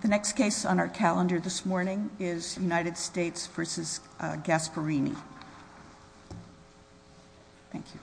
The next case on our calendar this morning is United States v. Gasparini. Thank you.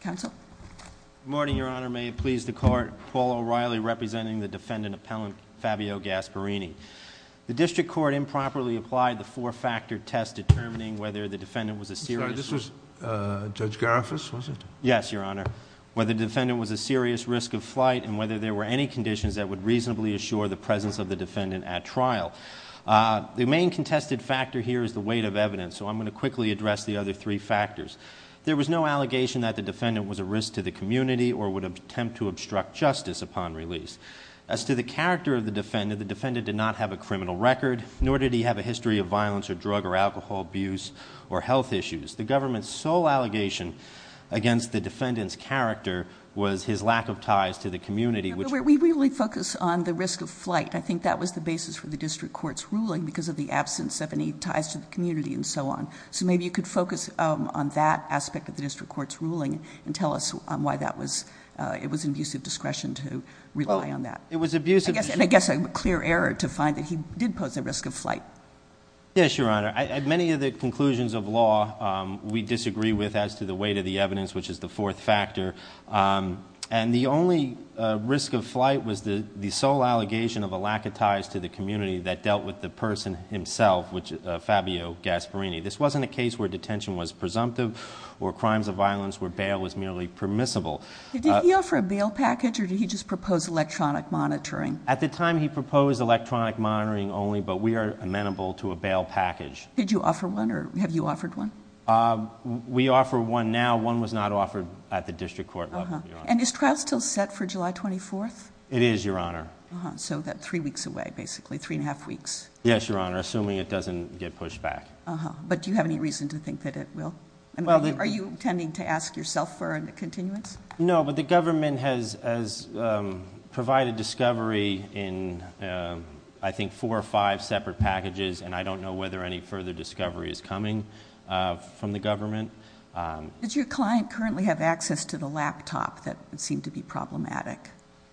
Counsel? Good morning, Your Honor. May it please the Court, Paul O'Reilly representing the defendant appellant Fabio Gasparini. The district court improperly applied the four-factor test determining whether the defendant was a serious... I'm sorry, this was Judge Gariffas, was it? Yes, Your Honor. Whether the defendant was a serious risk of flight and whether there were any conditions that would reasonably assure the presence of the defendant at trial. The main contested factor here is the weight of evidence, so I'm going to quickly address the other three factors. There was no allegation that the defendant was a risk to the community or would attempt to obstruct justice upon release. As to the character of the defendant, the defendant did not have a criminal record, nor did he have a history of violence or drug or alcohol abuse or health issues. The government's sole allegation against the defendant's character was his lack of ties to the community, which... We really focus on the risk of flight. I think that was the basis for the district court's ruling because of the absence of any ties to the community and so on. So maybe you could focus on that aspect of the district court's ruling and tell us why that was... It was an abuse of discretion to rely on that. It was abuse of... I guess a clear error to find that he did pose a risk of flight. Yes, Your Honor. At many of the conclusions of law, we disagree with as to the weight of the evidence, which is the fourth factor. And the only risk of flight was the sole allegation of a lack of ties to the community that dealt with the person himself, Fabio Gasparini. This wasn't a case where detention was presumptive or crimes of violence where bail was merely permissible. Did he offer a bail package or did he just propose electronic monitoring? At the time, he proposed electronic monitoring only, but we are amenable to a bail package. Did you offer one or have you offered one? We offer one now. One was not offered at the district court level, Your Honor. Uh-huh. And is trial still set for July 24th? It is, Your Honor. Uh-huh. So that's three weeks away, basically. Three and a half weeks. Yes, Your Honor, assuming it doesn't get pushed back. Uh-huh. But do you have any reason to think that it will? Are you intending to ask yourself for a continuance? No, but the government has provided discovery in, I think, four or five separate packages, and I don't know whether any further discovery is coming from the government. Does your client currently have access to the laptop that would seem to be problematic?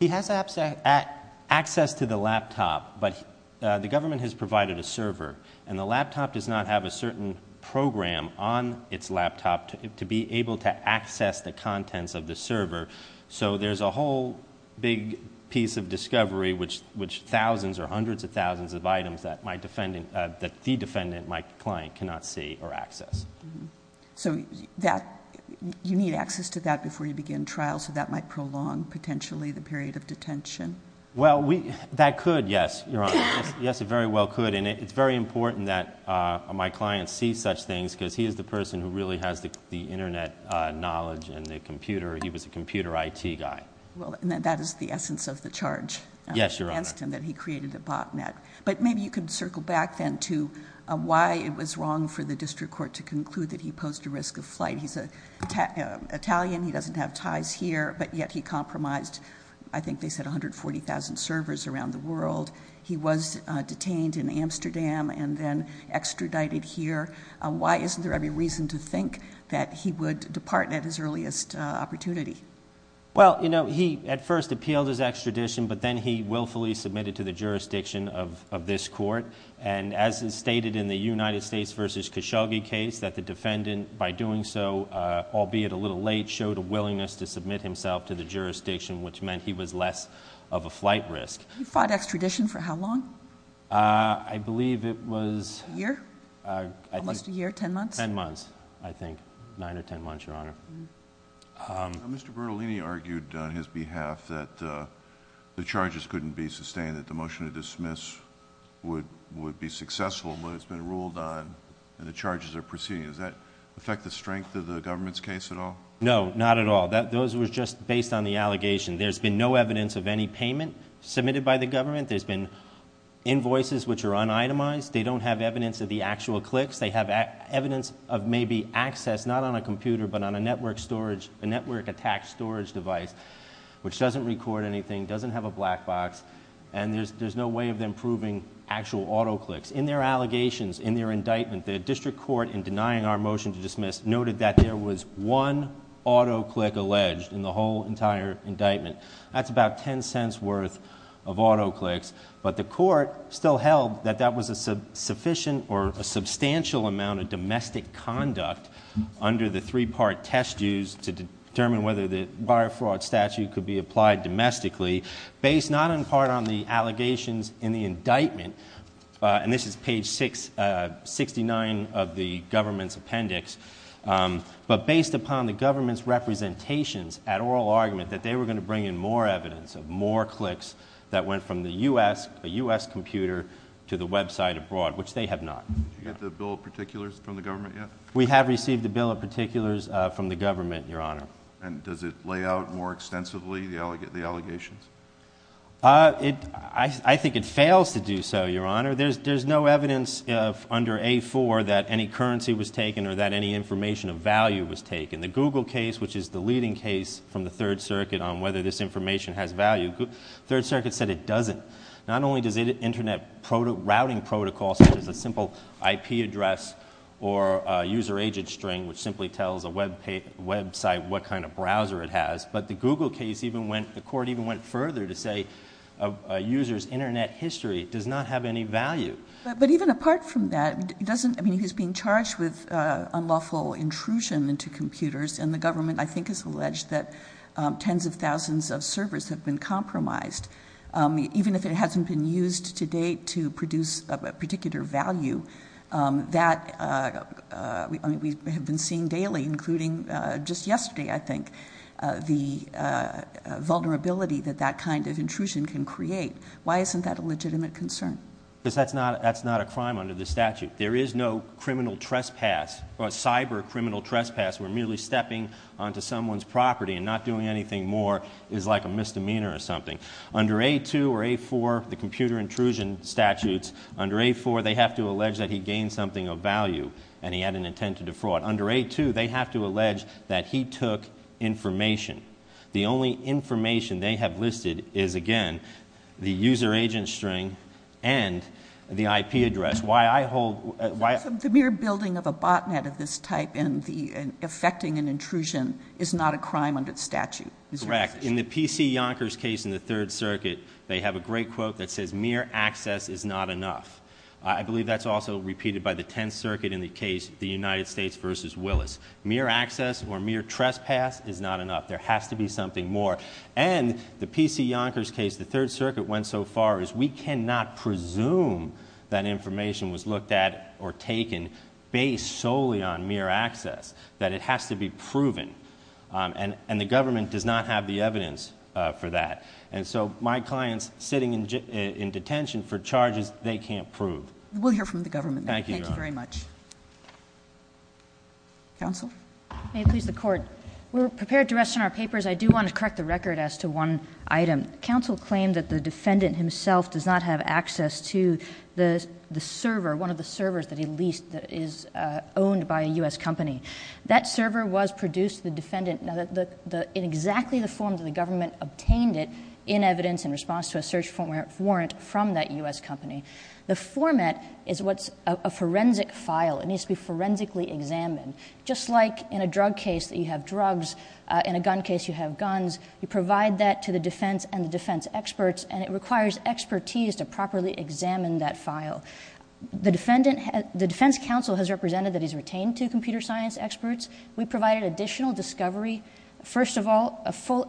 He has access to the laptop, but the government has provided a server, and the laptop does not have a certain program on its laptop to be able to access the contents of the server. So there's a whole big piece of discovery, which thousands or hundreds of thousands of items that the defendant, my client, cannot see or access. Uh-huh. So you need access to that before you begin trial, so that might prolong, potentially, the period of detention? Well, that could, yes, Your Honor. Yes, it very well could. And it's very important that my client see such things, because he is the person who really has the internet knowledge and the computer, he was a computer IT guy. Well, that is the essence of the charge against him, that he created a botnet. But maybe you could circle back then to why it was wrong for the district court to conclude that he posed a risk of flight. He's Italian, he doesn't have ties here, but yet he compromised, I think they said, 140,000 servers around the world. He was detained in Amsterdam and then extradited here. Why isn't there every reason to think that he would depart at his earliest opportunity? Well, you know, he at first appealed his extradition, but then he willfully submitted to the jurisdiction of this court. And as is stated in the United States v. Khashoggi case, that the defendant, by doing so, albeit a little late, showed a willingness to submit himself to the jurisdiction, which meant he was less of a flight risk. He fought extradition for how long? I believe it was... A year? Almost a year, ten months? Ten months, I think, nine or ten months, Your Honor. Mr. Bertolini argued on his behalf that the charges couldn't be sustained, that the motion to dismiss would be successful, but it's been ruled on and the charges are proceeding. Does that affect the strength of the government's case at all? No, not at all. Those were just based on the allegation. There's been no evidence of any payment submitted by the government. There's been invoices which are un-itemized. They don't have evidence of the actual clicks. They have evidence of maybe access, not on a computer, but on a network storage, a network attack storage device, which doesn't record anything, doesn't have a black box, and there's no way of them proving actual auto clicks. In their allegations, in their indictment, the district court, in denying our motion to dismiss, noted that there was one auto click alleged in the whole entire indictment. That's about ten cents' worth of auto clicks, but the court still held that that was a sufficient or a substantial amount of domestic conduct under the three-part test dues to determine whether the buyer fraud statute could be applied domestically, based not in part on the allegations in the indictment, and this is page 69 of the government's appendix, but based upon the government's representations at oral argument that they were going to bring in more evidence of more clicks that went from the U.S., a U.S. computer, to the website abroad, which they have not. Did you get the bill of particulars from the government yet? We have received the bill of particulars from the government, Your Honor. And does it lay out more extensively the allegations? I think it fails to do so, Your Honor. There's no evidence under A-4 that any currency was taken or that any information of value was taken. The Google case, which is the leading case from the Third Circuit on whether this information has value, the Third Circuit said it doesn't. Not only does Internet routing protocol, such as a simple IP address or user agent string, which simply tells a website what kind of browser it has, but the Google case, the court even went further to say a user's Internet history does not have any value. But even apart from that, he's being charged with unlawful intrusion into computers, and the government, I think, has alleged that tens of thousands of servers have been compromised. Even if it hasn't been used to date to produce a particular value, that we have been seeing daily, including just yesterday, I think, the vulnerability that that kind of intrusion can create. Why isn't that a legitimate concern? Because that's not a crime under the statute. There is no criminal trespass, or cyber criminal trespass, where merely stepping onto someone's property and not doing anything more is like a misdemeanor or something. Under A-2 or A-4, the computer intrusion statutes, under A-4 they have to allege that he gained something of value and he had an intent to defraud. Under A-2, they have to allege that he took information. The only information they have listed is, again, the user agent string and the IP address. The mere building of a botnet of this type and affecting an intrusion is not a crime under the statute. Correct. In the PC Yonkers case in the Third Circuit, they have a great quote that says, mere access is not enough. I believe that's also repeated by the Tenth Circuit in the case, the United States versus Willis. Mere access or mere trespass is not enough. There has to be something more. And the PC Yonkers case, the Third Circuit went so far as, we cannot presume that information was looked at or taken based solely on mere access. That it has to be proven. And the government does not have the evidence for that. And so my clients sitting in detention for charges they can't prove. We'll hear from the government. Thank you, Your Honor. Thank you very much. Counsel? May it please the Court. We're prepared to rest on our papers. I do want to correct the record as to one item. Counsel claimed that the defendant himself does not have access to the server, one of the servers that he leased that is owned by a U.S. company. That server was produced to the defendant in exactly the form that the government obtained it in evidence in response to a search warrant from that U.S. company. The format is what's a forensic file. It needs to be forensically examined. Just like in a drug case that you have drugs, in a gun case you have guns, you provide that to the defense and the defense experts, and it requires expertise to properly examine that file. The defense counsel has represented that he's retained two computer science experts. We provided additional discovery. First of all, a full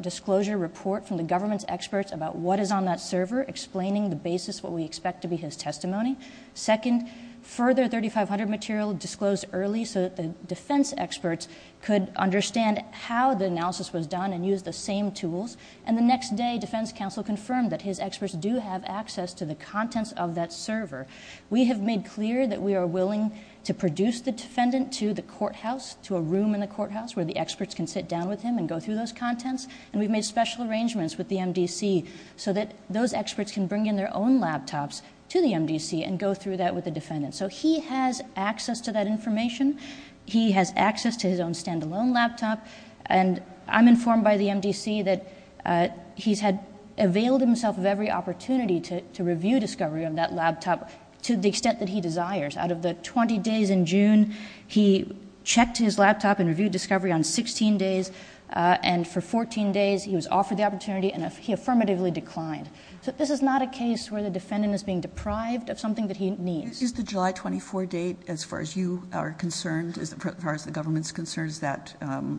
disclosure report from the government's experts about what is on that server, explaining the basis of what we expect to be his testimony. Second, further 3500 material disclosed early so that the defense experts could understand how the analysis was done and use the same tools. And the next day, defense counsel confirmed that his experts do have access to the contents of that server. We have made clear that we are willing to produce the defendant to the courthouse, to a room in the courthouse where the experts can sit down with him and go through those contents, and we've made special arrangements with the MDC so that those experts can bring in their own laptops to the MDC and go through that with the defendant. So he has access to that information. He has access to his own stand-alone laptop. And I'm informed by the MDC that he's had availed himself of every opportunity to review discovery on that laptop to the extent that he desires. Out of the 20 days in June, he checked his laptop and reviewed discovery on 16 days, and for 14 days he was offered the opportunity, and he affirmatively declined. So this is not a case where the defendant is being deprived of something that he needs. Is the July 24 date, as far as you are concerned, as far as the government's concerned, does that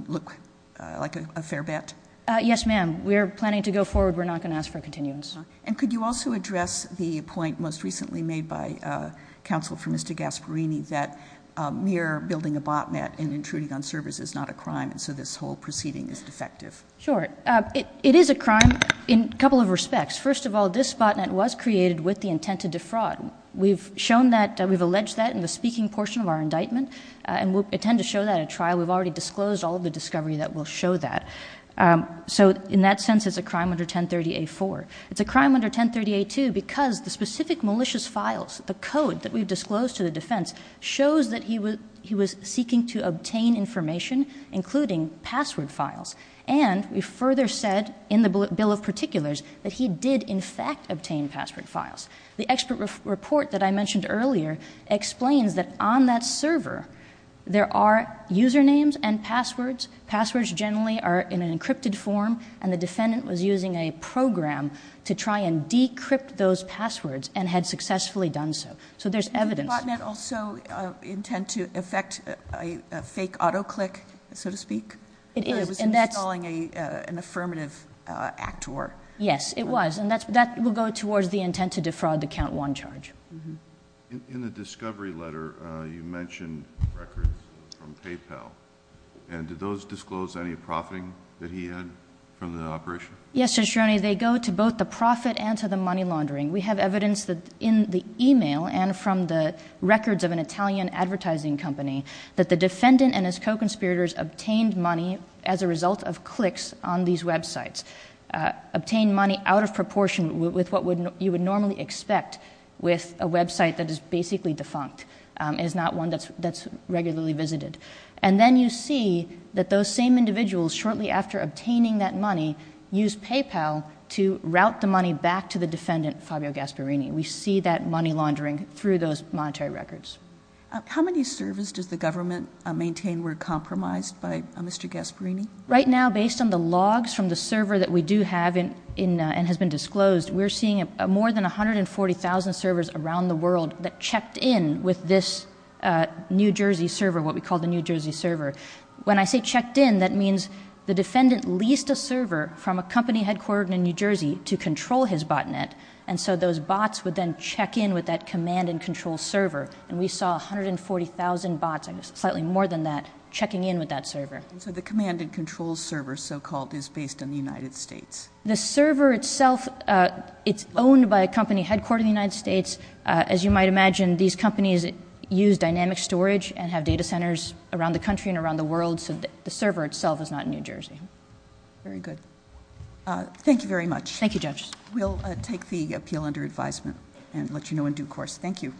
look like a fair bet? Yes, ma'am. We are planning to go forward. We're not going to ask for a continuance. And could you also address the point most recently made by counsel for Mr. Gasparini that mere building a botnet and intruding on servers is not a crime, and so this whole proceeding is defective? Sure. It is a crime in a couple of respects. First of all, this botnet was created with the intent to defraud. We've shown that, we've alleged that in the speaking portion of our indictment, and we intend to show that at trial. We've already disclosed all of the discovery that will show that. So in that sense, it's a crime under 1030-A-4. It's a crime under 1030-A-2 because the specific malicious files, the code that we've disclosed to the defense, shows that he was seeking to obtain information, including password files. And we further said in the bill of particulars that he did, in fact, obtain password files. The expert report that I mentioned earlier explains that on that server, there are usernames and passwords. Passwords generally are in an encrypted form, and the defendant was using a program to try and decrypt those passwords and had successfully done so. So there's evidence. Did the botnet also intend to effect a fake autoclick, so to speak? It is. It was installing an affirmative actor. Yes, it was. And that will go towards the intent to defraud the count one charge. In the discovery letter, you mentioned records from PayPal. And did those disclose any profiting that he had from the operation? Yes, Judge Sironi. They go to both the profit and to the money laundering. We have evidence in the e-mail and from the records of an Italian advertising company that the defendant and his co-conspirators obtained money as a result of clicks on these websites, obtained money out of proportion with what you would normally expect with a website that is basically defunct. It is not one that's regularly visited. And then you see that those same individuals, shortly after obtaining that money, used PayPal to route the money back to the defendant, Fabio Gasparini. We see that money laundering through those monetary records. How many servers does the government maintain were compromised by Mr. Gasparini? Right now, based on the logs from the server that we do have and has been disclosed, we're seeing more than 140,000 servers around the world that checked in with this New Jersey server, what we call the New Jersey server. When I say checked in, that means the defendant leased a server from a company headquartered in New Jersey to control his botnet. And so those bots would then check in with that command and control server. And we saw 140,000 bots, slightly more than that, checking in with that server. And so the command and control server, so-called, is based in the United States. The server itself, it's owned by a company headquartered in the United States. As you might imagine, these companies use dynamic storage and have data centers around the country and around the world. So the server itself is not in New Jersey. Very good. Thank you very much. Thank you, Judge. We'll take the appeal under advisement and let you know in due course. Thank you.